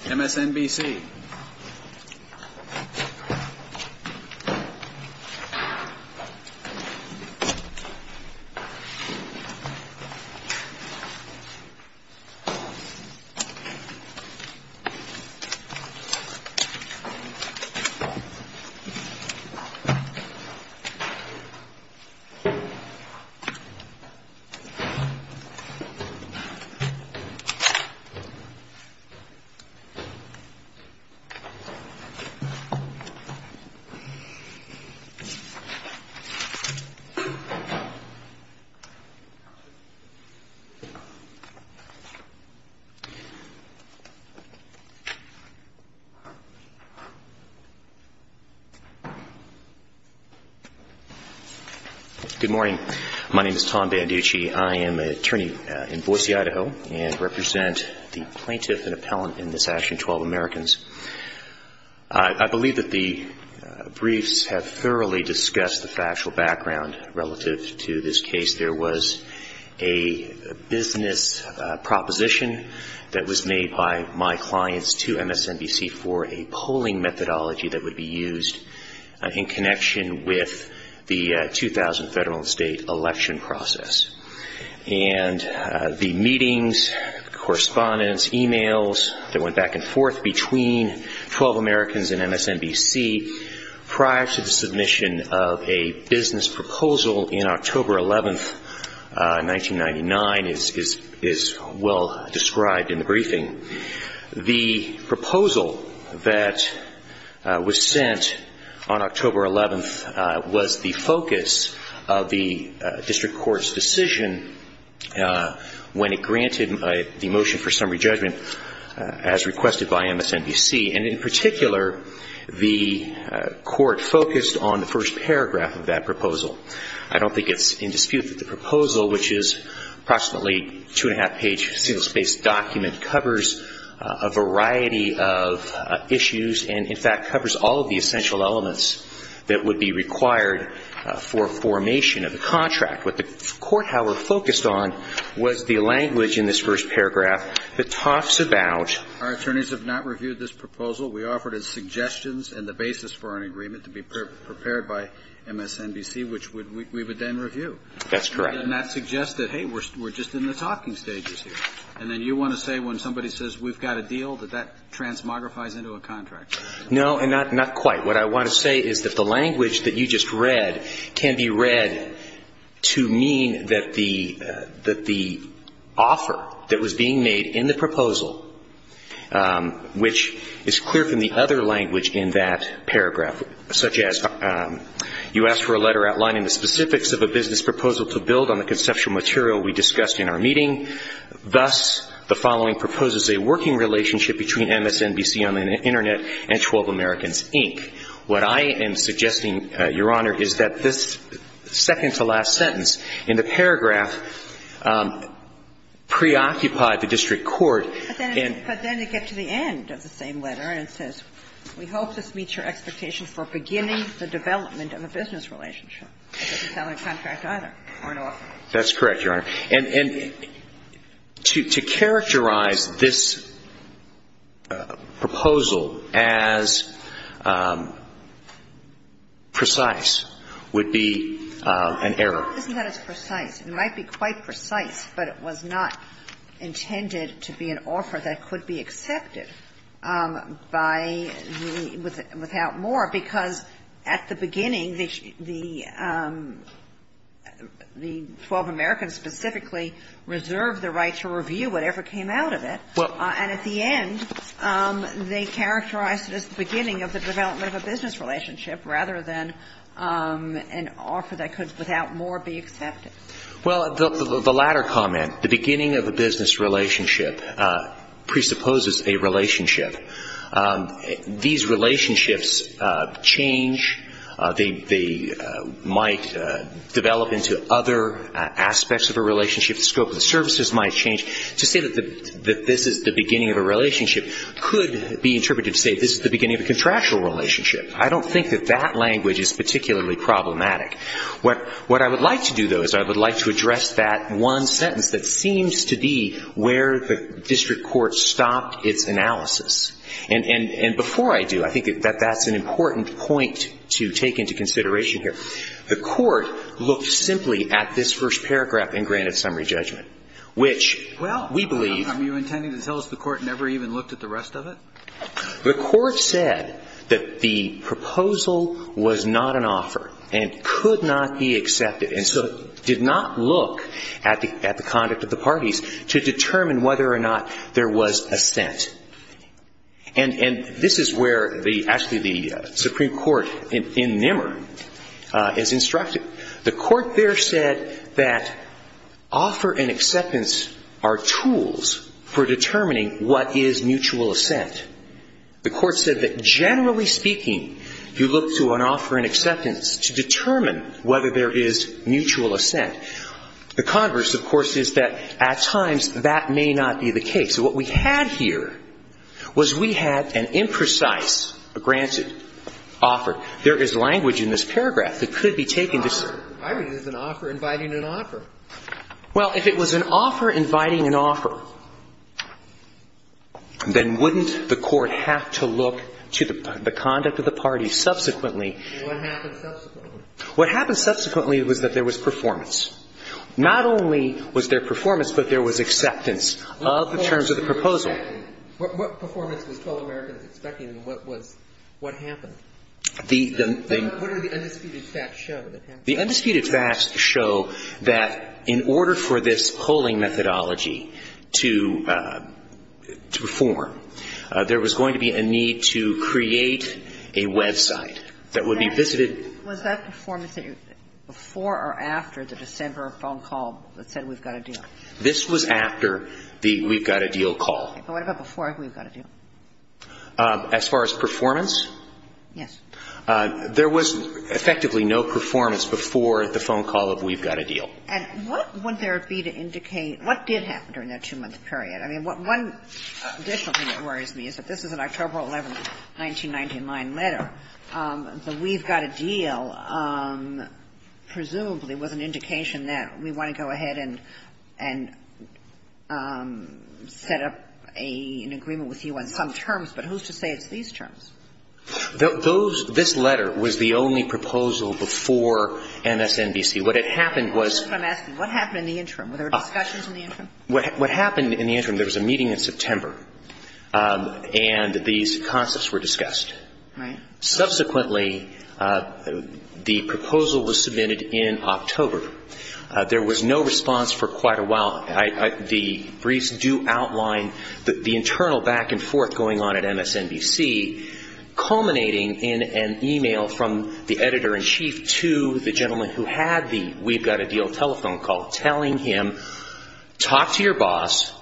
MSNBC Good morning. My name is Tom Banducci. I am an attorney in Boise, Idaho, and represent the plaintiff and appellant in this action, 12 AMERICANS. I believe that the briefs have thoroughly discussed the factual background relative to this case. There was a business proposition that was made by my clients to MSNBC for a polling methodology that would be used in connection with the 2000 federal and state election process. And the meetings, correspondence, emails that went back and forth between 12 AMERICANS and MSNBC prior to the submission of a business proposal in October 11, 1999, is well described in the briefing. The proposal that was sent on October 11 was the focus of the district court's decision when it granted the motion for summary judgment as requested by MSNBC. And in particular, the court focused on the first paragraph of that proposal. I don't think it's in dispute that the proposal, which is approximately a two-and-a-half-page, single-space document, covers a variety of issues and, in fact, covers all of the essential elements that would be was the language in this first paragraph that talks about... Our attorneys have not reviewed this proposal. We offered as suggestions and the basis for an agreement to be prepared by MSNBC, which we would then review. That's correct. And that suggests that, hey, we're just in the talking stages here. And then you want to say when somebody says, we've got a deal, that that transmogrifies into a contract. No, not quite. What I want to say is that the language that you just read can be read to mean that the offer that was being made in the proposal, which is clear from the other language in that paragraph, such as you asked for a letter outlining the specifics of a business proposal to build on the conceptual material we discussed in our meeting. Thus, the following proposes a working relationship between MSNBC on the sentence in the paragraph preoccupied the district court... But then it gets to the end of the same letter and it says, we hope this meets your expectation for beginning the development of a business relationship. It doesn't sound like a contract either or an offer. That's correct, Your Honor. And to characterize this proposal as precise would be an error. It's not as precise. It might be quite precise, but it was not intended to be an offer that could be accepted by the — without more, because at the beginning, the 12 Americans specifically reserved the right to review whatever came out of it. And at the end, they characterized it as the beginning of the development of a business relationship rather than an offer that could, without more, be accepted. Well, the latter comment, the beginning of a business relationship, presupposes a relationship. These relationships change. They might develop into other aspects of a relationship. The scope of the services might change. To say that this is the beginning of a relationship could be interpreted to say this is the beginning of a contractual relationship. I don't think that that language is particularly problematic. What I would like to do, though, is I would like to address that one sentence that seems to be where the district court stopped its analysis. And before I do, I think that that's an important point to take into consideration here. The court looked simply at this first paragraph in granted summary judgment, which we believe... I never even looked at the rest of it? The court said that the proposal was not an offer and could not be accepted. And so it did not look at the conduct of the parties to determine whether or not there was assent. And this is where the, actually, the Supreme Court in Nimmer is instructed. The court there that offer and acceptance are tools for determining what is mutual assent. The court said that generally speaking, you look to an offer and acceptance to determine whether there is mutual assent. The converse, of course, is that at times that may not be the case. So what we had here was we had an imprecise granted offer. There is language in this paragraph that could be taken to... I read it as an offer inviting an offer. Well, if it was an offer inviting an offer, then wouldn't the court have to look to the conduct of the parties subsequently? And what happened subsequently? What happened subsequently was that there was performance. Not only was there performance, but there was acceptance of the terms of the proposal. What performance were you expecting? What performance was 12 Americans expecting, and what was, what happened? The... What are the undisputed facts show that happened? The undisputed facts show that in order for this polling methodology to perform, there was going to be a need to create a website that would be visited... Was that performance before or after the December phone call that said we've got a deal? This was after the we've got a deal call. Okay. But what about before we've got a deal? As far as performance? Yes. There was effectively no performance before the phone call of we've got a deal. And what would there be to indicate what did happen during that two-month period? I mean, one additional thing that worries me is that this is an October 11, 1999 letter. The we've got a deal presumably was an indication that we want to go ahead and set up an agreement with you on some terms, but who's to say it's these terms? Those, this letter was the only proposal before MSNBC. What had happened was... I'm asking, what happened in the interim? Were there discussions in the interim? What happened in the interim, there was a meeting in September and these concepts were discussed. Subsequently, the proposal was submitted in October. There was no response for quite a while. The briefs do outline the internal back and forth going on at MSNBC, culminating in an email from the editor-in-chief to the gentleman who had the we've got a deal telephone call, telling him, talk to your boss,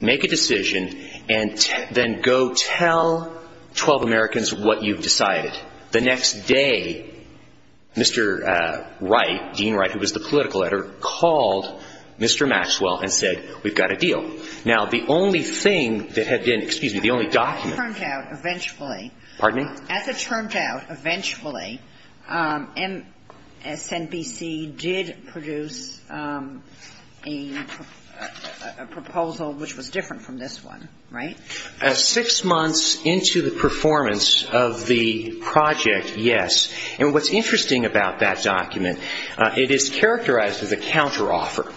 make a decision, and then go tell 12 Americans what you've decided. The next day, Mr. Wright, Dean Wright, who was the political editor, called Mr. Maxwell and said, we've got a deal. Now, the only thing that had been, excuse me, the only document... As it turned out, eventually... Pardon me? As it turned out, eventually, MSNBC did produce a proposal which was different from this one, right? Six months into the performance of the project, yes. And what's interesting about that document, it is characterized as a counteroffer.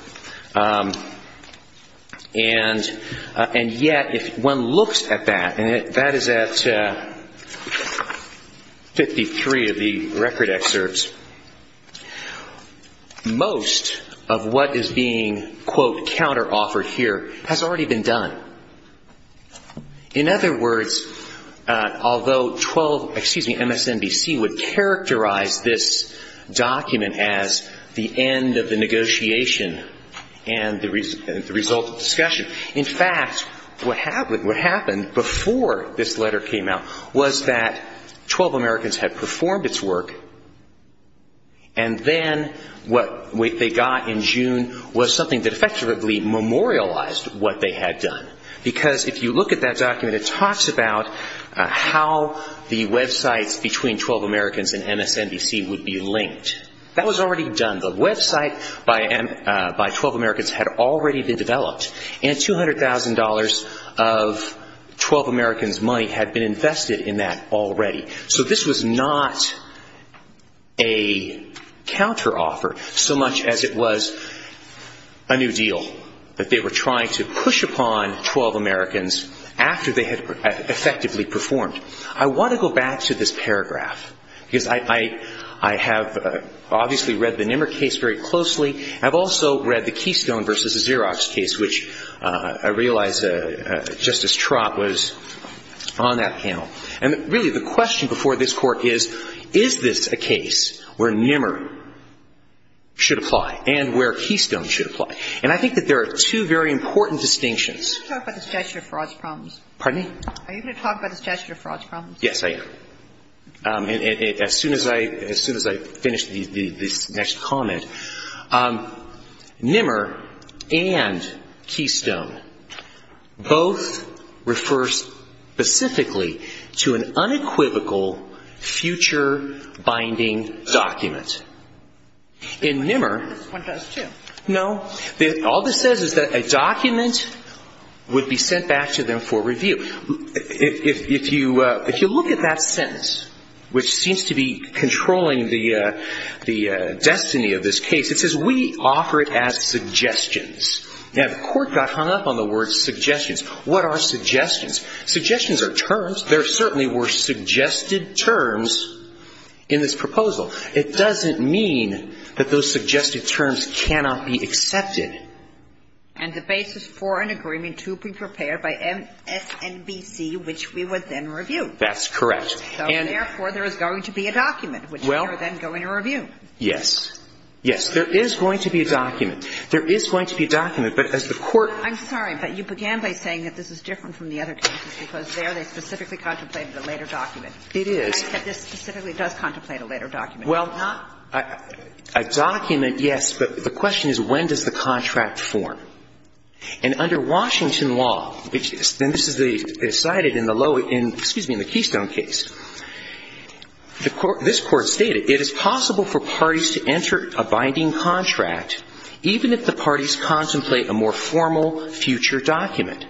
And yet, if one looks at that, and that is at 53 of the record excerpts, most of what is being, quote, counteroffered here has already been done. In other words, although 12, excuse me, MSNBC would characterize this document as the end of the negotiation and the result of discussion. In fact, what happened before this letter came out was that 12 Americans had performed its work, and then what they got in June was something that effectively memorialized what they had done. Because if you look at that document, it talks about how the websites between 12 Americans and MSNBC would be linked. That was already done. The website by 12 Americans had already been developed, and $200,000 of 12 Americans' money had been invested in that already. So this was not a counteroffer so much as it was a new deal that they were trying to push upon 12 Americans after they had effectively performed. I want to go back to this paragraph, because I have obviously read the Nimmer case very closely. I've also read the Keystone v. Xerox case, which I realize Justice Trott was on that panel. And really, the question before this Court is, is this a case where Nimmer should apply and where Keystone should apply? And I think that there are two very important distinctions. Are you going to talk about the statutory frauds problems? Pardon me? Are you going to talk about the statutory frauds problems? Yes, I am. As soon as I finish this next comment, Nimmer and Keystone both refer specifically to an unequivocal future binding document. And Nimmer This one does too. No, all this says is that a document would be sent back to them for review. If you look at that sentence, which seems to be controlling the destiny of this case, it says, we offer it as suggestions. Now, the Court got hung up on the word suggestions. What are suggestions? Suggestions are terms. There certainly were suggested terms in this proposal. It doesn't mean that those suggested terms cannot be accepted. And the basis for an agreement to be prepared by MSNBC, which we would then review. That's correct. So therefore, there is going to be a document, which we are then going to review. Yes. Yes, there is going to be a document. There is going to be a document. But as the Court I'm sorry, but you began by saying that this is different from the other cases, because there they specifically contemplated a later document. It is. This specifically does contemplate a later document. Well, a document, yes. But the question is, when does the contract form? And under Washington law, and this is cited in the Keystone case, this Court stated, it is possible for parties to enter a binding contract even if the parties contemplate a more formal future document.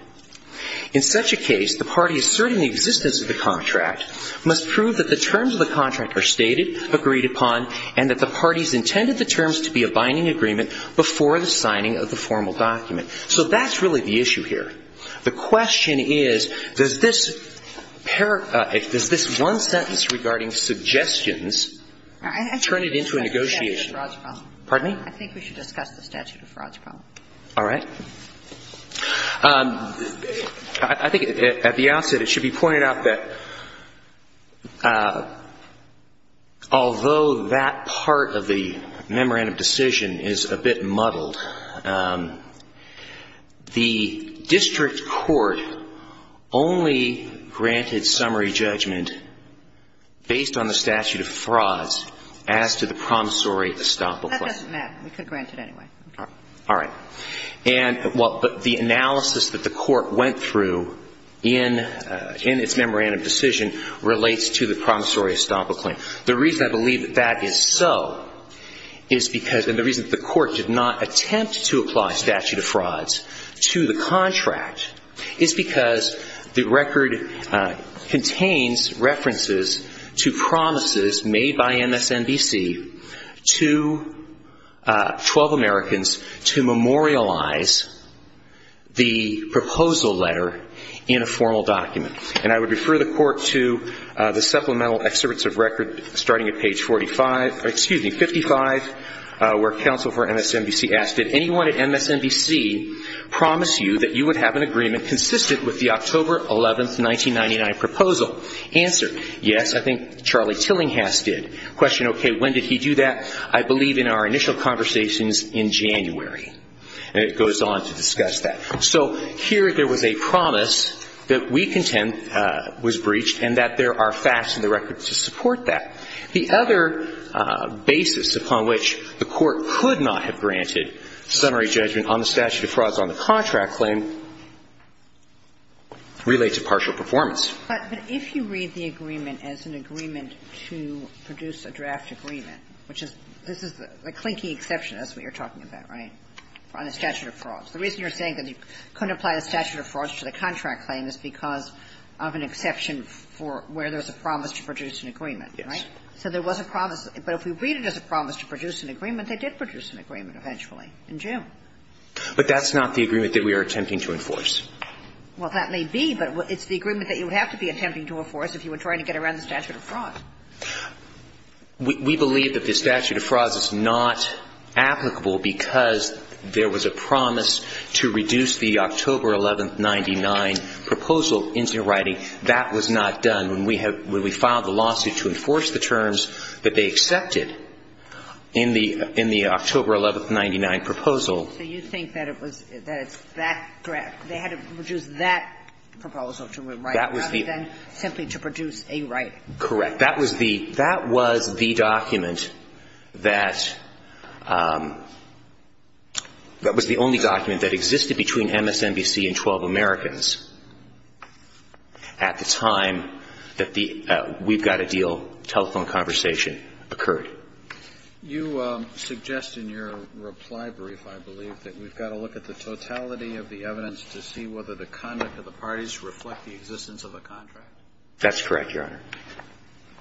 In such a case, the parties asserting the existence of the contract must prove that the terms of the contract are stated, agreed upon, and that the parties intended the terms to be a binding agreement before the signing of the formal document. So that's really the issue here. The question is, does this one sentence regarding suggestions turn it into a negotiation? I think we should discuss the statute of frauds problem. Pardon me? I think we should discuss the statute of frauds problem. All right. I think at the outset it should be pointed out that although that part of the memorandum decision is a bit muddled, the district court only granted summary judgment based on the statute of frauds as to the promissory estoppel clause. That doesn't matter. We could grant it anyway. All right. And the analysis that the court went through in its memorandum decision relates to the promissory estoppel claim. The reason I believe that that is so is because and the reason the court did not attempt to apply statute of frauds to the contract is because the record contains references to promises made by MSNBC to 12 Americans to memorialize the proposal letter in a formal document. And I would refer the court to the supplemental excerpts of record starting at page 45, excuse me, 55, where counsel for MSNBC asked, did anyone at MSNBC promise you that you would have an agreement consistent with the October 11, 1999 proposal? Answer, yes, I think Charlie Tillinghast did. Question, okay, when did he do that? I believe in our initial conversations in January. And it goes on to discuss that. So here there was a promise that we contend was breached and that there are facts in the record to support that. The other basis upon which the court could not have granted summary judgment on the statute of frauds on the contract claim relates to partial performance. But if you read the agreement as an agreement to produce a draft agreement, which is, this is the clinking exception, that's what you're talking about, right? On the statute of frauds. The reason you're saying that you couldn't apply the statute of frauds to the contract claim is because of an exception for where there's a promise to produce an agreement, right? So there was a promise. But if we read it as a promise to produce an agreement, they did produce an agreement eventually in June. But that's not the agreement that we are attempting to enforce. Well, that may be. But it's the agreement that you would have to be attempting to enforce if you were trying to get around the statute of frauds. We believe that the statute of frauds is not applicable because there was a promise to reduce the October 11, 1999 proposal into writing. That was not done. When we filed the lawsuit to enforce the terms that they accepted in the October 11, 1999 proposal. So you think that it's that draft. They had to produce that proposal to write rather than simply to produce a writing. Correct. That was the document that was the only document that existed between MSNBC and 12 Americans at the time that the we've got a deal telephone conversation occurred. You suggest in your reply brief, I believe that we've got to look at the totality of the evidence to see whether the conduct of the parties reflect the existence of a contract. That's correct, Your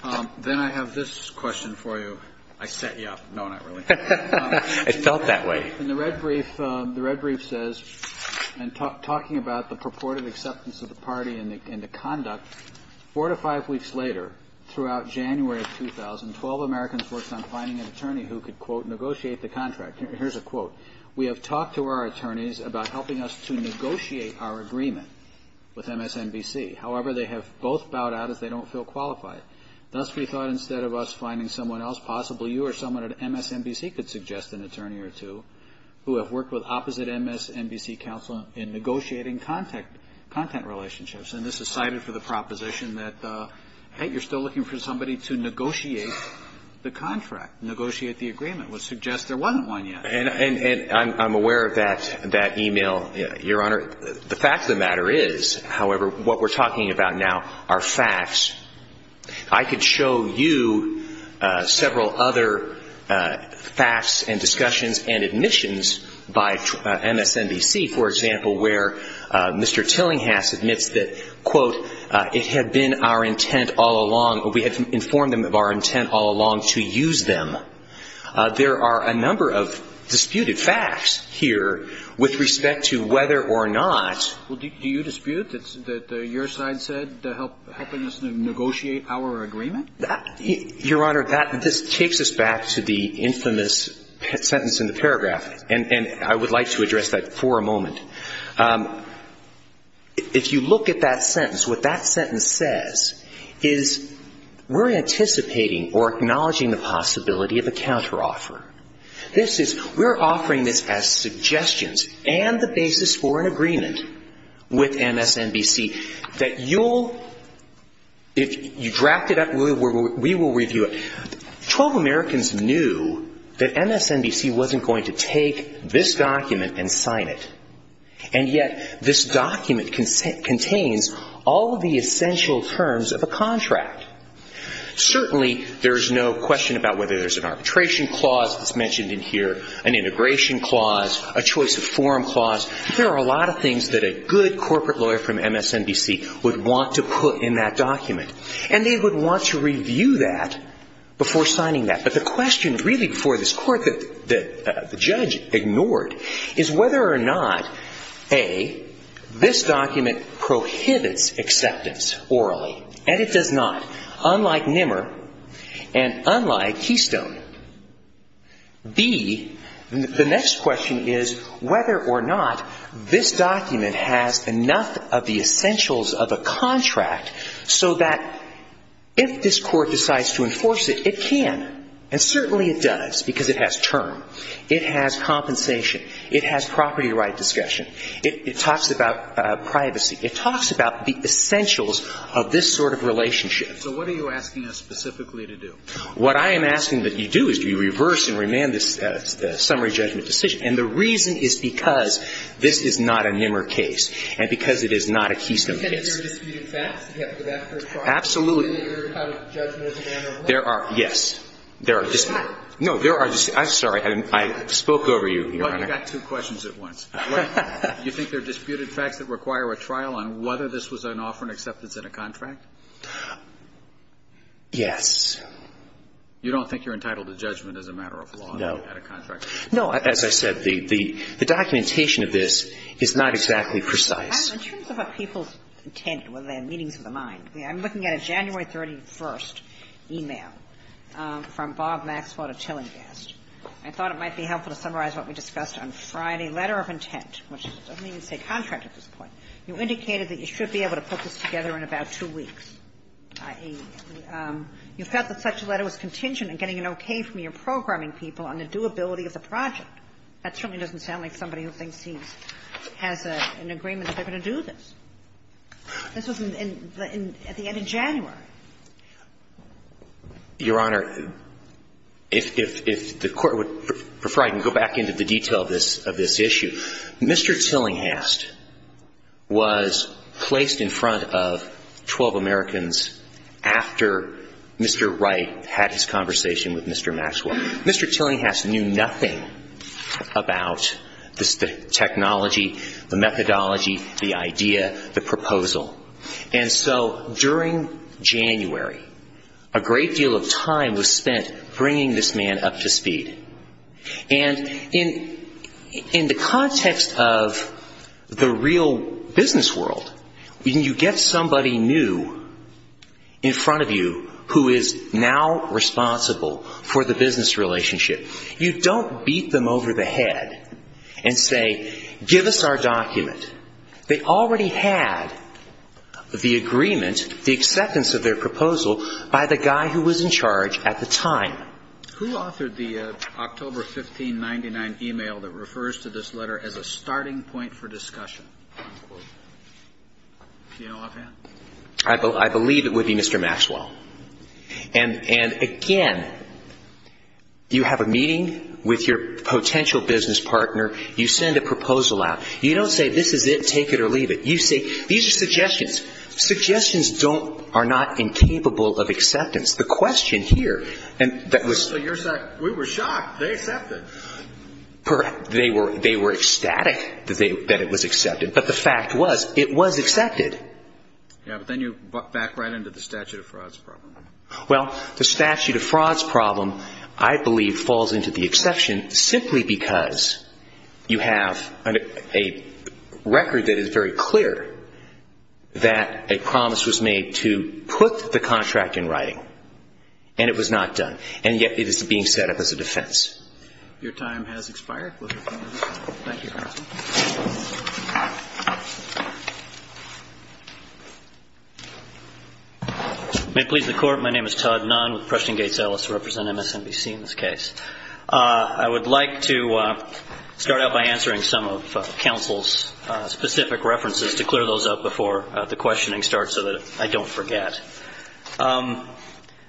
Honor. Then I have this question for you. I set you up. No, not really. I felt that way. In the red brief, the red brief says and talking about the purported acceptance of the party and the conduct four to five weeks later throughout January of 2012, Americans worked on finding an attorney who could, quote, negotiate the contract. Here's a quote. We have talked to our attorneys about helping us to negotiate our agreement with MSNBC. However, they have both bowed out as they don't feel qualified. Thus, we thought instead of us finding someone else, possibly you or someone at MSNBC could suggest an attorney or two who have worked with opposite MSNBC counsel in negotiating content relationships. And this is cited for the proposition that, hey, you're still looking for somebody to the contract, negotiate the agreement. We'll suggest there wasn't one yet. And I'm aware of that email, Your Honor. The fact of the matter is, however, what we're talking about now are facts. I could show you several other facts and discussions and admissions by MSNBC, for example, where Mr. Tillinghast admits that, quote, it had been our intent all along to use them. There are a number of disputed facts here with respect to whether or not. Well, do you dispute that your side said helping us negotiate our agreement? Your Honor, this takes us back to the infamous sentence in the paragraph. And I would like to address that for a moment. If you look at that sentence, what that sentence says is we're anticipating or acknowledging the possibility of a counteroffer. This is, we're offering this as suggestions and the basis for an agreement with MSNBC that you'll, if you draft it up, we will review it. Twelve Americans knew that MSNBC wasn't going to take this document and sign it. And yet, this document contains all of the essential terms of a contract. Certainly, there is no question about whether there's an arbitration clause that's mentioned in here, an integration clause, a choice of form clause. There are a lot of things that a good corporate lawyer from MSNBC would want to put in that document. And they would want to review that before signing that. The question really before this court that the judge ignored is whether or not, A, this document prohibits acceptance orally. And it does not, unlike NMR and unlike Keystone. B, the next question is whether or not this document has enough of the essentials of a And certainly it does, because it has term. It has compensation. It has property right discussion. It talks about privacy. It talks about the essentials of this sort of relationship. So what are you asking us specifically to do? What I am asking that you do is to reverse and remand this summary judgment decision. And the reason is because this is not a NMR case and because it is not a Keystone case. Absolutely. There are, yes. There are, no, there are, I'm sorry. I spoke over you, Your Honor. Well, you got two questions at once. Do you think there are disputed facts that require a trial on whether this was an offer and acceptance at a contract? Yes. You don't think you're entitled to judgment as a matter of law at a contract? No. No. As I said, the documentation of this is not exactly precise. In terms of a people's intent, whether they have meanings of the mind, I'm looking at a January 31st e-mail from Bob Maxwell to Tillinghast. I thought it might be helpful to summarize what we discussed on Friday. Letter of intent, which doesn't even say contract at this point. You indicated that you should be able to put this together in about two weeks. You felt that such a letter was contingent on getting an okay from your programming people on the doability of the project. That certainly doesn't sound like somebody who thinks he has an agreement that they're going to do this. This was at the end of January. Your Honor, if the Court would prefer, I can go back into the detail of this issue. Mr. Tillinghast was placed in front of 12 Americans after Mr. Wright had his conversation with Mr. Maxwell. Mr. Tillinghast knew nothing about the technology, the methodology, the idea, the proposal. During January, a great deal of time was spent bringing this man up to speed. In the context of the real business world, when you get somebody new in front of you who is now responsible for the business relationship, you don't beat them over the head and say, give us our document. They already had the agreement, the acceptance of their proposal by the guy who was in charge at the time. Who authored the October 15, 1999 email that refers to this letter as a starting point for discussion? I believe it would be Mr. Maxwell. And again, you have a meeting with your potential business partner. You send a proposal out. You don't say, this is it. Take it or leave it. You say, these are suggestions. Suggestions are not incapable of acceptance. The question here, and that was- So you're saying, we were shocked. They accepted. Correct. They were ecstatic that it was accepted. But the fact was, it was accepted. Yeah, but then you back right into the statute of frauds problem. Well, the statute of frauds problem, I believe, falls into the exception simply because you have a record that is very clear that a promise was made to put the contract in writing. And it was not done. And yet, it is being set up as a defense. Your time has expired. Thank you. May it please the Court. My name is Todd Nunn with Prussian Gates Ellis. I represent MSNBC in this case. I would like to start out by answering some of counsel's specific references to clear those up before the questioning starts so that I don't forget.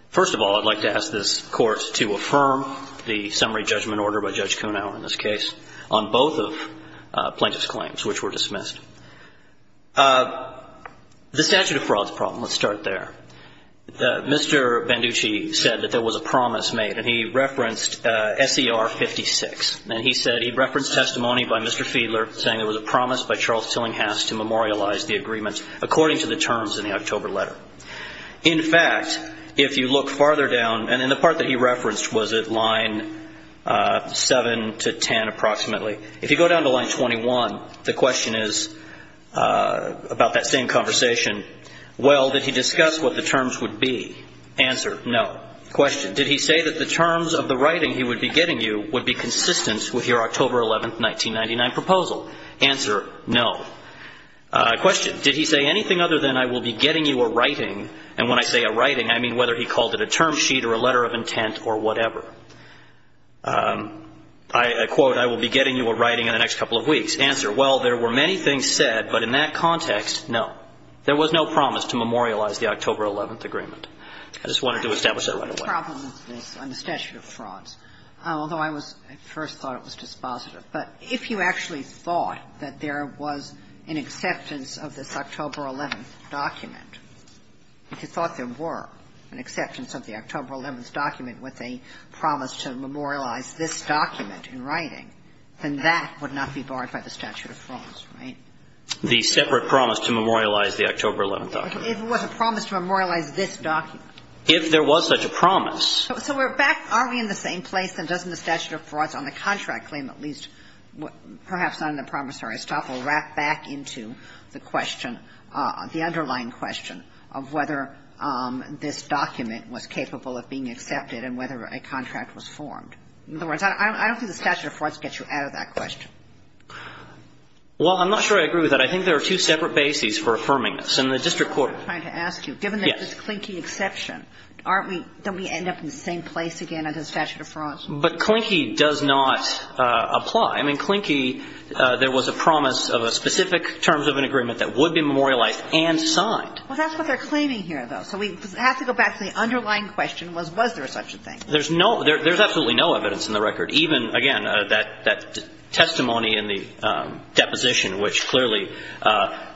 First of all, I'd like to ask this Court to affirm the summary judgment order by Judge Kunow in this case on both of plaintiff's claims, which were dismissed. The statute of frauds problem, let's start there. Mr. Banducci said that there was a promise made. And he referenced S.E.R. 56. And he said he referenced testimony by Mr. Fiedler saying there was a promise by Charles Tillinghast to memorialize the agreement according to the terms in the October letter. In fact, if you look farther down, and in the part that he referenced, was it line 7 to 10 approximately? If you go down to line 21, the question is about that same conversation. Well, did he discuss what the terms would be? Answer, no. Question, did he say that the terms of the writing he would be getting you would be consistent with your October 11, 1999 proposal? Answer, no. Question, did he say anything other than I will be getting you a writing? And when I say a writing, I mean whether he called it a term sheet or a letter of intent or whatever. I quote, I will be getting you a writing in the next couple of weeks. Answer, well, there were many things said, but in that context, no. There was no promise to memorialize the October 11 agreement. I just wanted to establish that right away. The problem with this on the statute of frauds, although I first thought it was dispositive, but if you actually thought that there was an acceptance of this October 11 document, if you thought there were an acceptance of the October 11 document with a promise to memorialize this document in writing, then that would not be barred by the statute of frauds, right? The separate promise to memorialize the October 11 document. If it was a promise to memorialize this document. If there was such a promise. So we're back, are we in the same place? And doesn't the statute of frauds on the contract claim at least, perhaps not in the promissory stop, we'll wrap back into the question, the underlying question of whether this document was capable of being accepted and whether a contract was formed. In other words, I don't think the statute of frauds gets you out of that question. Well, I'm not sure I agree with that. I think there are two separate bases for affirming this. And the district court. I'm trying to ask you, given this Klinke exception, don't we end up in the same place again under the statute of frauds? But Klinke does not apply. I mean, Klinke, there was a promise of a specific terms of an agreement that would be memorialized and signed. Well, that's what they're claiming here though. So we have to go back to the underlying question was, was there such a thing? There's no, there's absolutely no evidence in the record. Even, again, that testimony in the deposition, which clearly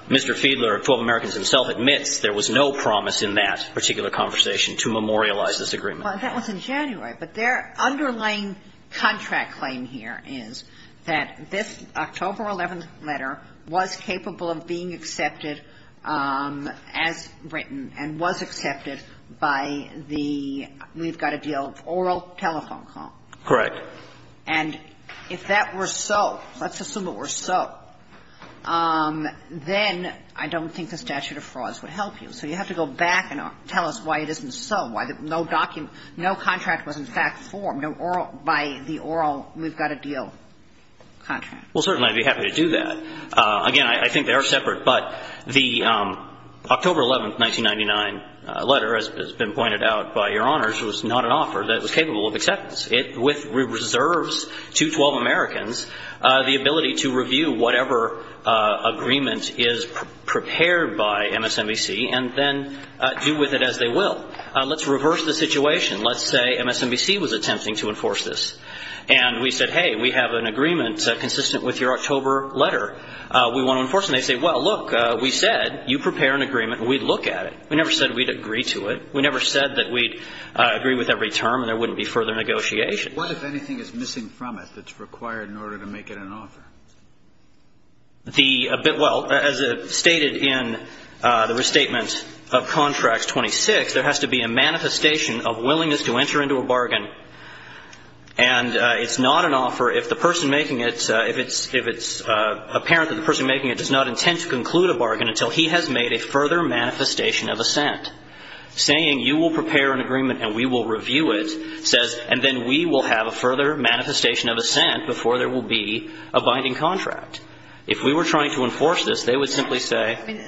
Mr. Fiedler of 12 Americans himself admits there was no promise in that particular conversation to memorialize this agreement. Well, that was in January. But their underlying contract claim here is that this October 11th letter was capable of being accepted as written and was accepted by the, we've got to deal, oral telephone call. Correct. And if that were so, let's assume it were so, then I don't think the statute of frauds would help you. So you have to go back and tell us why it isn't so, why no contract was in fact formed, no oral, by the oral we've got to deal contract. Well, certainly I'd be happy to do that. Again, I think they are separate. But the October 11th, 1999 letter, as has been pointed out by Your Honors, was not an offer that was capable of acceptance. It reserves to 12 Americans the ability to review whatever agreement is prepared by MSNBC and then do with it as they will. Let's reverse the situation. Let's say MSNBC was attempting to enforce this. And we said, hey, we have an agreement consistent with your October letter. We want to enforce it. They say, well, look, we said you prepare an agreement and we'd look at it. We never said we'd agree to it. We never said that we'd agree with every term and there wouldn't be further negotiation. What, if anything, is missing from it that's required in order to make it an offer? The bit, well, as stated in the restatement of Contracts 26, there has to be a manifestation of willingness to enter into a bargain. And it's not an offer if the person making it, if it's apparent that the person making it does not intend to conclude a bargain until he has made a further manifestation of assent. Saying you will prepare an agreement and we will review it says, and then we will have a further manifestation of assent before there will be a binding contract. If we were trying to enforce this, they would simply say. I mean,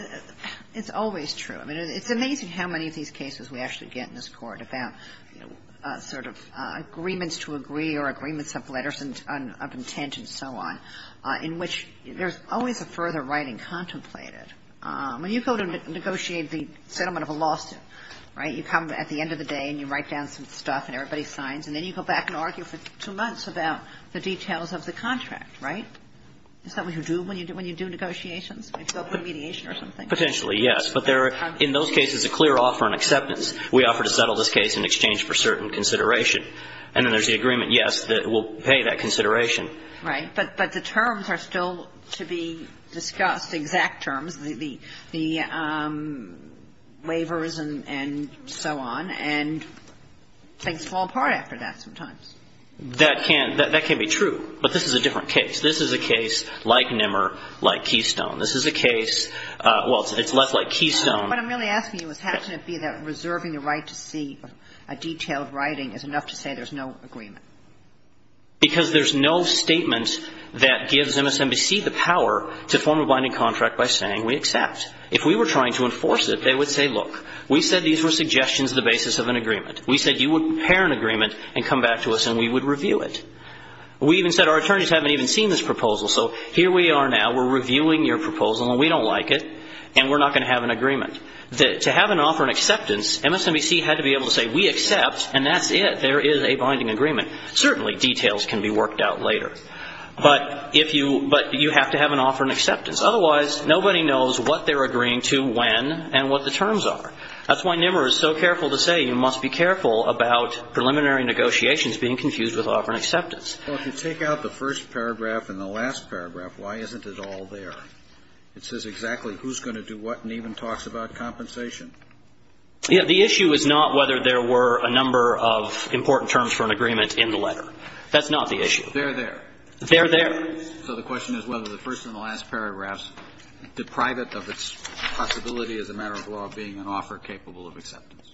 it's always true. I mean, it's amazing how many of these cases we actually get in this Court about, you know, sort of agreements to agree or agreements of letters and of intent and so on, in which there's always a further writing contemplated. When you go to negotiate the settlement of a lawsuit, right, you come at the end of the day and you write down some stuff and everybody signs, and then you go back and argue for two months about the details of the contract, right? Is that what you do when you do negotiations? You go for mediation or something? Potentially, yes. But there are, in those cases, a clear offer and acceptance. We offer to settle this case in exchange for certain consideration. And then there's the agreement, yes, that we'll pay that consideration. Right. But the terms are still to be discussed, exact terms, the waivers and so on. And things fall apart after that sometimes. That can be true. But this is a different case. This is a case like Nimmer, like Keystone. This is a case, well, it's left like Keystone. What I'm really asking you is how can it be that reserving the right to see a detailed writing is enough to say there's no agreement? Because there's no statement that gives MSNBC the power to form a binding contract by saying we accept. If we were trying to enforce it, they would say, look, we said these were suggestions of the basis of an agreement. We said you would prepare an agreement and come back to us and we would review it. We even said our attorneys haven't even seen this proposal. So here we are now. We're reviewing your proposal, and we don't like it. And we're not going to have an agreement. To have an offer and acceptance, MSNBC had to be able to say we accept, and that's it. There is a binding agreement. Certainly details can be worked out later. But you have to have an offer and acceptance. Otherwise, nobody knows what they're agreeing to when and what the terms are. That's why Nimmer is so careful to say you must be careful about preliminary negotiations being confused with offer and acceptance. Well, if you take out the first paragraph and the last paragraph, why isn't it all there? It says exactly who's going to do what and even talks about compensation. Yeah. The issue is not whether there were a number of important terms for an agreement in the letter. That's not the issue. They're there. They're there. So the question is whether the first and the last paragraphs deprive it of its possibility as a matter of law being an offer capable of acceptance.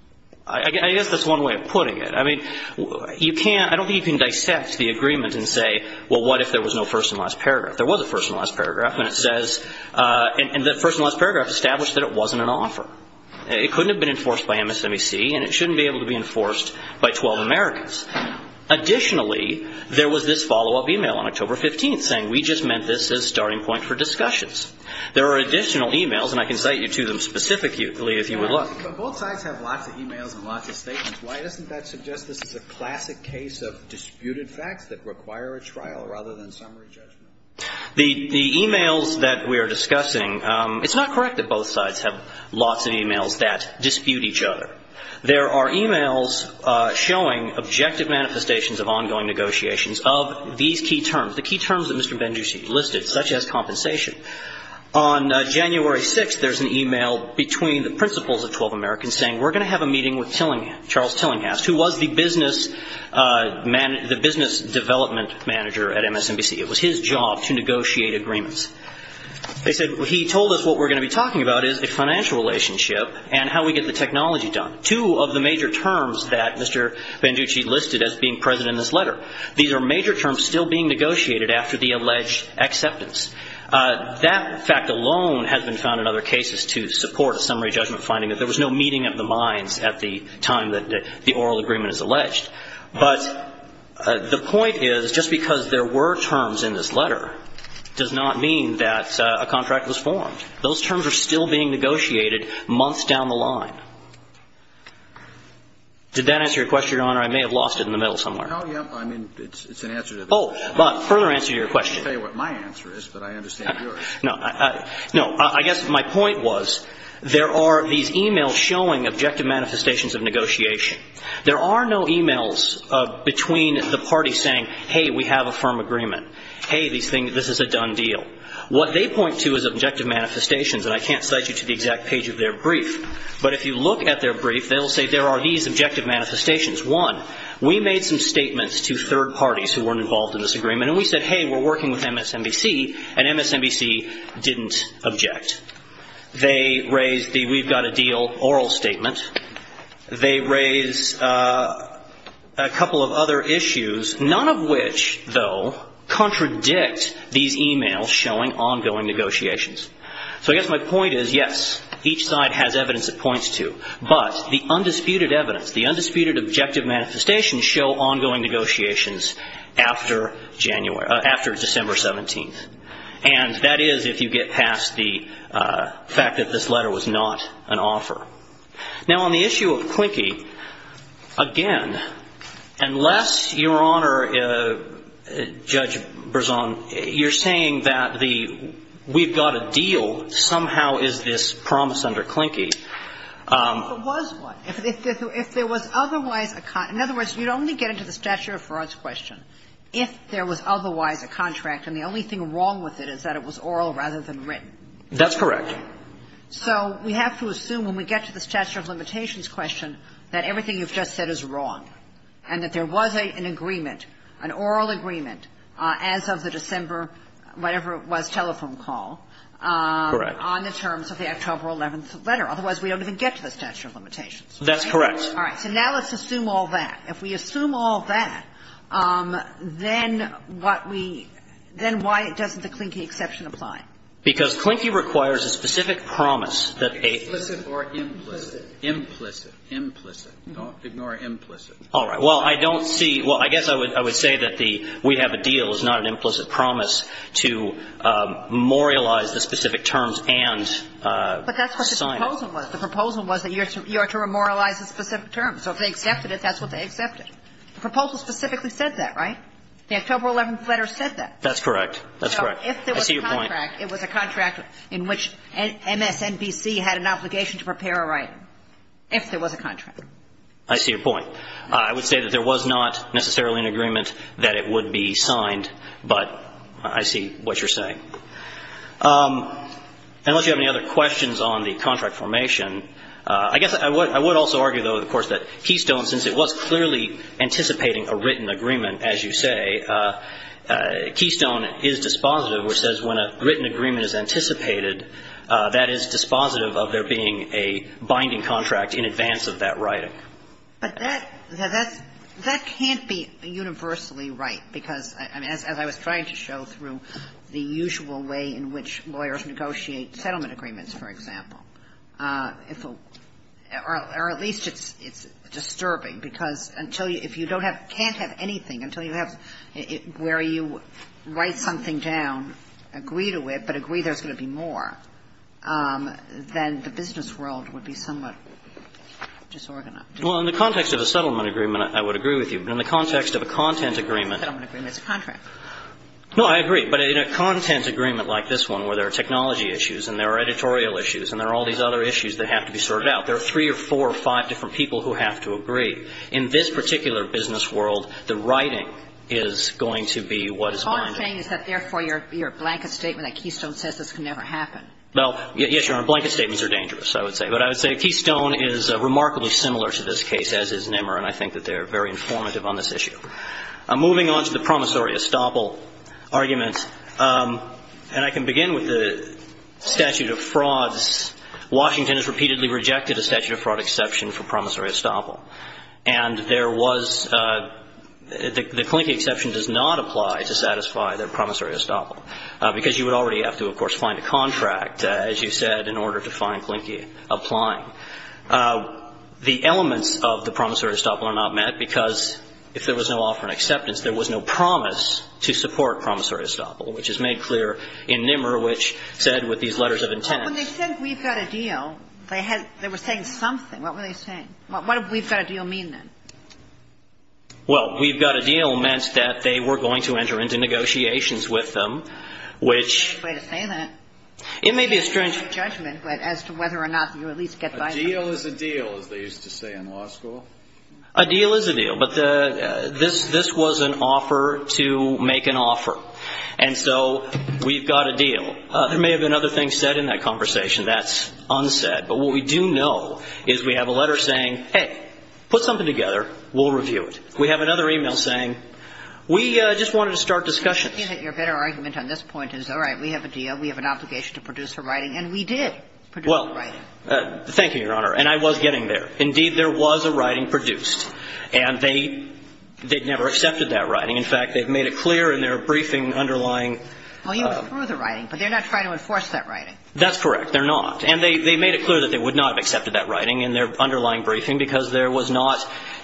I guess that's one way of putting it. I mean, you can't – I don't think you can dissect the agreement and say, well, what if there was no first and last paragraph? There was a first and last paragraph, and it says – and the first and last paragraph established that it wasn't an offer. It couldn't have been enforced by MSNBC, and it shouldn't be able to be enforced by 12 Americans. Additionally, there was this follow-up email on October 15th saying we just meant this as a starting point for discussions. There are additional emails, and I can cite you to them specifically if you would look. But both sides have lots of emails and lots of statements. Why doesn't that suggest this is a classic case of disputed facts that require a trial rather than summary judgment? The emails that we are discussing, it's not correct that both sides have lots of emails that dispute each other. There are emails showing objective manifestations of ongoing negotiations of these key terms, the key terms that Mr. Benjussi listed, such as compensation. On January 6th, there's an email between the principals of 12 Americans saying we're going to have a meeting with Tillinghast – Charles Tillinghast, who was the business development manager at MSNBC. It was his job to negotiate agreements. They said he told us what we're going to be talking about is a financial relationship and how we get the technology done. Two of the major terms that Mr. Benjussi listed as being present in this letter, these are major terms still being negotiated after the alleged acceptance. That fact alone has been found in other cases to support a summary judgment finding that there was no meeting of the minds at the time that the oral agreement is alleged. But the point is, just because there were terms in this letter does not mean that a contract was formed. Those terms are still being negotiated months down the line. Did that answer your question, Your Honor? I may have lost it in the middle somewhere. Oh, yeah. I mean, it's an answer to the question. Oh, further answer to your question. I can't tell you what my answer is, but I understand yours. No, I guess my point was, there are these emails showing objective manifestations of negotiation. There are no emails between the parties saying, hey, we have a firm agreement. Hey, this is a done deal. What they point to is objective manifestations. And I can't cite you to the exact page of their brief. But if you look at their brief, they'll say there are these objective manifestations. One, we made some statements to third parties who weren't involved in this agreement. And we said, hey, we're working with MSNBC. And MSNBC didn't object. They raised the we've got a deal oral statement. They raised a couple of other issues, none of which, though, contradict these emails showing ongoing negotiations. So I guess my point is, yes, each side has evidence it points to. But the undisputed evidence, the undisputed objective manifestations show ongoing negotiations after December 17th. And that is if you get past the fact that this letter was not an offer. Now, on the issue of Quinky, again, unless, Your Honor, Judge Berzon, you're saying that we've got a deal, somehow is this promise under Quinky. But if it was one, if there was otherwise a con – in other words, you'd only get into the statute of frauds question if there was otherwise a contract. And the only thing wrong with it is that it was oral rather than written. That's correct. So we have to assume when we get to the statute of limitations question that everything you've just said is wrong and that there was an agreement, an oral agreement, as of the December whatever it was, telephone call. Correct. On the terms of the October 11th letter. Otherwise, we don't even get to the statute of limitations. That's correct. All right. So now let's assume all that. If we assume all that, then what we – then why doesn't the Quinky exception apply? Because Quinky requires a specific promise that a – Implicit or implicit? Implicit. Implicit. Don't ignore implicit. All right. Well, I don't see – well, I guess I would say that the – we have a deal. It's not an implicit promise to memorialize the specific terms and sign it. But that's what the proposal was. The proposal was that you are to memorialize the specific terms. So if they accepted it, that's what they accepted. The proposal specifically said that, right? The October 11th letter said that. That's correct. That's correct. I see your point. It was a contract in which MSNBC had an obligation to prepare a writing. If there was a contract. I see your point. I would say that there was not necessarily an agreement that it would be signed, but I see what you're saying. Unless you have any other questions on the contract formation, I guess I would also argue, though, of course, that Keystone, since it was clearly anticipating a written agreement, as you say, Keystone is dispositive, which says when a written agreement is anticipated, that is dispositive of there being a binding contract in advance of that writing. But that can't be universally right. Because as I was trying to show through the usual way in which lawyers negotiate settlement agreements, for example, or at least it's disturbing. Because if you can't have anything until you have where you write something down, agree to it, but agree there's going to be more, then the business world would be somewhat disorganized. Well, in the context of a settlement agreement, I would agree with you. But in the context of a content agreement. A settlement agreement is a contract. No, I agree. But in a content agreement like this one where there are technology issues and there are editorial issues and there are all these other issues that have to be sorted out, there are three or four or five different people who have to agree. In this particular business world, the writing is going to be what is binding. All I'm saying is that therefore your blanket statement at Keystone says this can never happen. Well, yes, your blanket statements are dangerous, I would say. But I would say Keystone is remarkably similar to this case, as is Nimmer. And I think that they're very informative on this issue. Moving on to the promissory estoppel argument. And I can begin with the statute of frauds. Washington has repeatedly rejected a statute of fraud exception for promissory estoppel. And there was, the Clinke exception does not apply to satisfy the promissory estoppel. Because you would already have to, of course, find a contract, as you said, in order to find Clinke applying. The elements of the promissory estoppel are not met because if there was no offer and acceptance, there was no promise to support promissory estoppel, which is made clear in Nimmer, which said with these letters of intent. But when they said we've got a deal, they were saying something. What were they saying? What did we've got a deal mean, then? Well, we've got a deal meant that they were going to enter into negotiations with them, which, it may be a strange judgment as to whether or not you at least get by. A deal is a deal, as they used to say in law school. A deal is a deal. But this was an offer to make an offer. And so we've got a deal. There may have been other things said in that conversation. That's unsaid. But what we do know is we have a letter saying, hey, put something together. We'll review it. We have another email saying, we just wanted to start discussions. Your better argument on this point is, all right, we have a deal. We have an obligation to produce a writing. And we did produce a writing. Well, thank you, Your Honor. And I was getting there. Indeed, there was a writing produced. And they'd never accepted that writing. In fact, they've made it clear in their briefing underlying. Well, you were through the writing. But they're not trying to enforce that writing. That's correct. They're not. And they made it clear that they would not have accepted that writing in their underlying briefing because there was not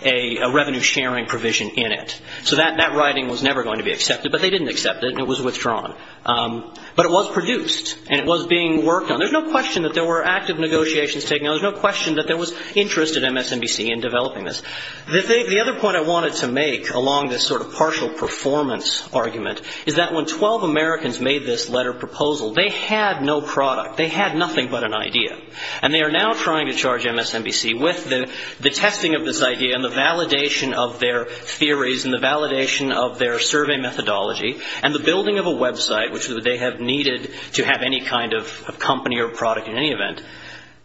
a revenue sharing provision in it. So that writing was never going to be accepted. But they didn't accept it. And it was withdrawn. But it was produced. And it was being worked on. There's no question that there were active negotiations taking place. There's no question that there was interest at MSNBC in developing this. The other point I wanted to make along this sort of partial performance argument is that when 12 Americans made this letter proposal, they had no product. They had nothing but an idea. And they are now trying to charge MSNBC with the testing of this idea and the validation of their theories and the validation of their survey methodology and the building of a website, which they have needed to have any kind of company or product in any event.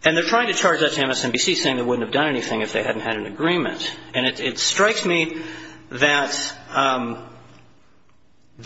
And they're trying to charge that to MSNBC, saying they wouldn't have done anything if they hadn't had an agreement. And it strikes me that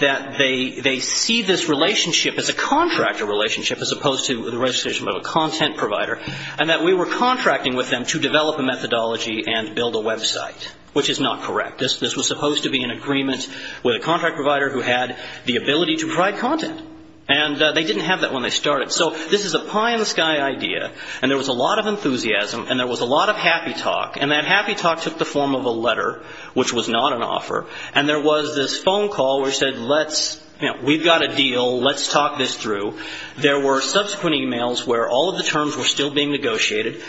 they see this relationship as a contractor relationship as opposed to the registration of a content provider, and that we were contracting with them to develop a methodology and build a website, which is not correct. This was supposed to be an agreement with a contract provider who had the ability to provide content. And they didn't have that when they started. So this is a pie-in-the-sky idea. And there was a lot of enthusiasm. And there was a lot of happy talk. And that happy talk took the form of a letter, which was not an offer. And there was this phone call where he said, let's, you know, we've got a deal. Let's talk this through. There were subsequent emails where all of the terms were still being negotiated,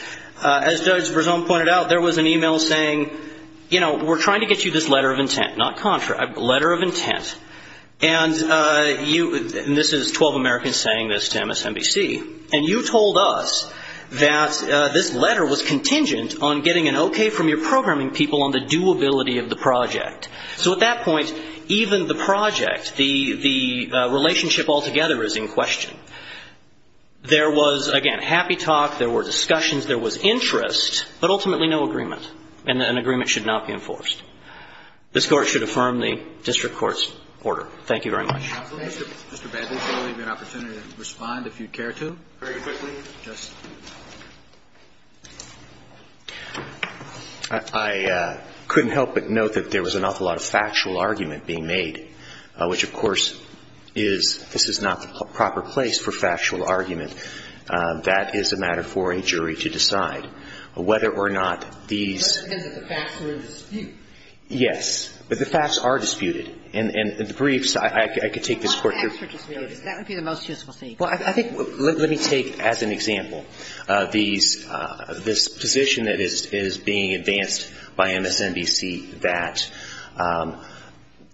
as Verzone pointed out. There was an email saying, you know, we're trying to get you this letter of intent, not contract, letter of intent. And this is 12 Americans saying this to MSNBC. And you told us that this letter was contingent on getting an OK from your programming people on the doability of the project. So at that point, even the project, the relationship altogether is in question. There was, again, happy talk. There were discussions. There was interest. But ultimately, no agreement. And an agreement should not be enforced. This Court should affirm the district court's order. Thank you very much. MR. BABBITT. Mr. Babbitt, is there really an opportunity to respond, if you'd care to? MR. BABBITT. Very quickly. MR. BABBITT. Just. MR. BABBITT. I couldn't help but note that there was an awful lot of factual argument being made, which, of course, is, this is not the proper place for factual argument. That is a matter for a jury to decide. Whether or not these. MS. NIEUSMA. That depends if the facts are in dispute. MR. BABBITT. Yes. But the facts are disputed. And the briefs, I could take this Court. MS. NIEUSMA. That would be the most useful thing. MR. BABBITT. Well, I think, let me take as an example this position that is being advanced by MSNBC that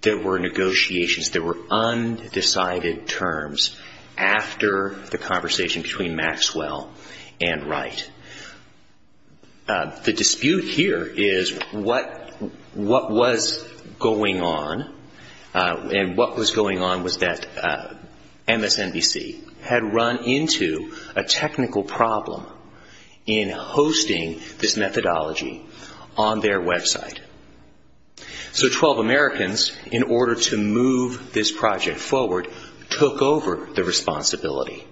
there were negotiations, there were undecided terms after the conversation between Maxwell and Wright. The dispute here is what was going on, and what was going on was that MSNBC had run into a technical problem in hosting this methodology on their website. So 12 Americans, in order to move this project forward, took over the responsibility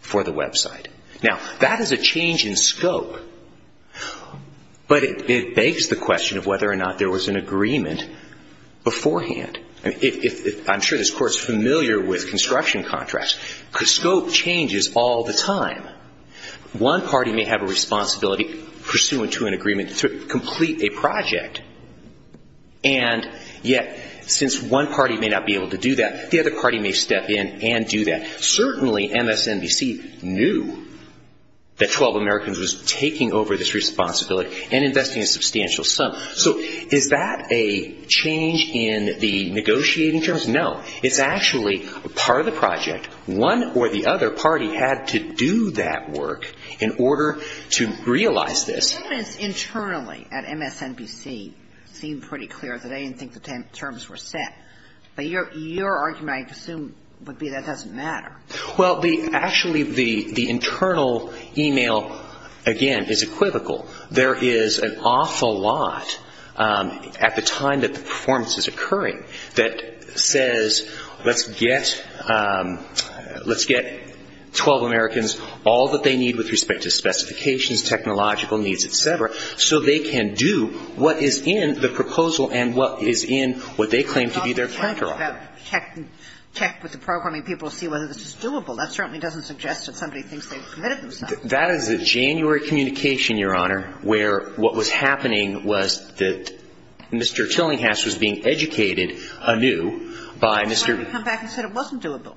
for the website. Now, that is a change in scope, but it begs the question of whether or not there was an agreement beforehand. I'm sure this Court is familiar with construction contracts. Scope changes all the time. One party may have a responsibility pursuant to an agreement to complete a project, and yet, since one party may not be able to do that, the other party may step in and do that. Certainly, MSNBC knew that 12 Americans was taking over this responsibility and investing a substantial sum. So is that a change in the negotiating terms? No. It's actually part of the project. One or the other party had to do that work in order to realize this. MSNBC seemed pretty clear that they didn't think the terms were set, but your argument, I assume, would be that doesn't matter. Well, actually, the internal email, again, is equivocal. There is an awful lot at the time that the performance is occurring that says, let's get 12 Americans all that they need with respect to specifications, technological needs, et cetera, so they can do what is in the proposal and what is in what they claim to be their counterargument. Well, let's go back and check with the programming people and see whether this is doable. That certainly doesn't suggest that somebody thinks they've committed themselves. That is a January communication, Your Honor, where what was happening was that Mr. Tillinghast was being educated anew by Mr. ---- Well, it's not going to come back and say it wasn't doable.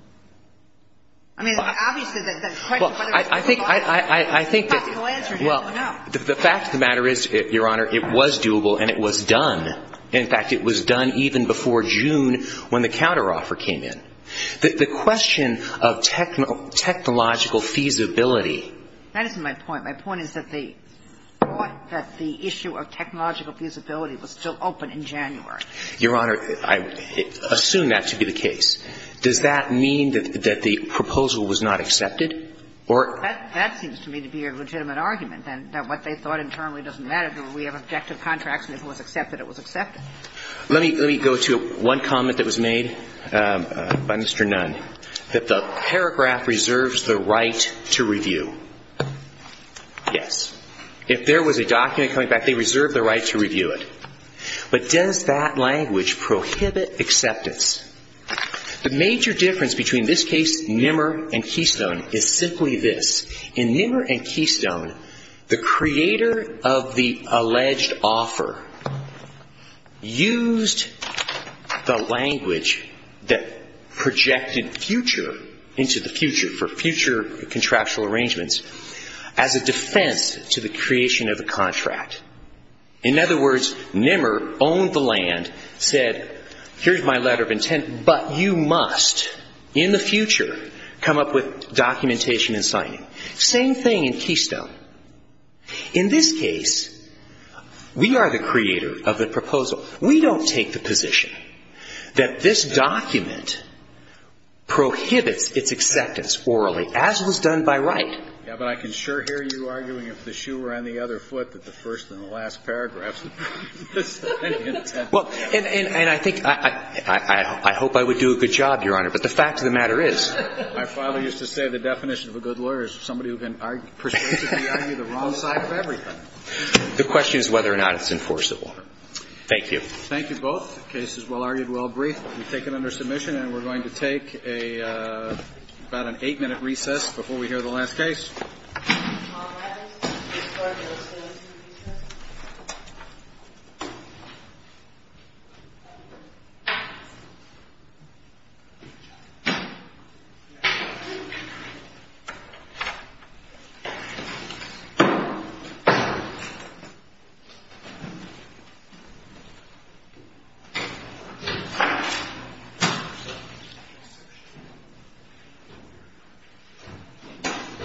I mean, obviously, that question, whether it was doable, it's impossible to answer, no. The fact of the matter is, Your Honor, it was doable and it was done. In fact, it was done even before June when the counteroffer came in. The question of technological feasibility. That isn't my point. My point is that the issue of technological feasibility was still open in January. Your Honor, I assume that to be the case. Does that mean that the proposal was not accepted? That seems to me to be a legitimate argument, that what they thought internally doesn't matter, that we have objective contracts and if it was accepted, it was accepted. Let me go to one comment that was made by Mr. Nunn, that the paragraph reserves the right to review. Yes. If there was a document coming back, they reserve the right to review it. But does that language prohibit acceptance? The major difference between this case, Nimmer and Keystone, is simply this. In Nimmer and Keystone, the creator of the alleged offer used the language that projected future into the future, for future contractual arrangements, as a defense to the creation of the contract. In other words, Nimmer owned the land, said, here's my letter of intent, but you must, in the future, come up with documentation and signing. Same thing in Keystone. In this case, we are the creator of the proposal. We don't take the position that this document prohibits its acceptance orally, as was done by Wright. Yeah, but I can sure hear you arguing, if the shoe were on the other foot, that the first and the last paragraphs of this document. Well, and I think, I hope I would do a good job, Your Honor. But the fact of the matter is, my father used to say the definition of a good lawyer is somebody who can persuasively argue the wrong side of everything. The question is whether or not it's enforceable. Thank you. Thank you both. The case is well-argued, well-briefed. We take it under submission and we're going to take a, about an eight-minute recess before we hear the last case. Thank you.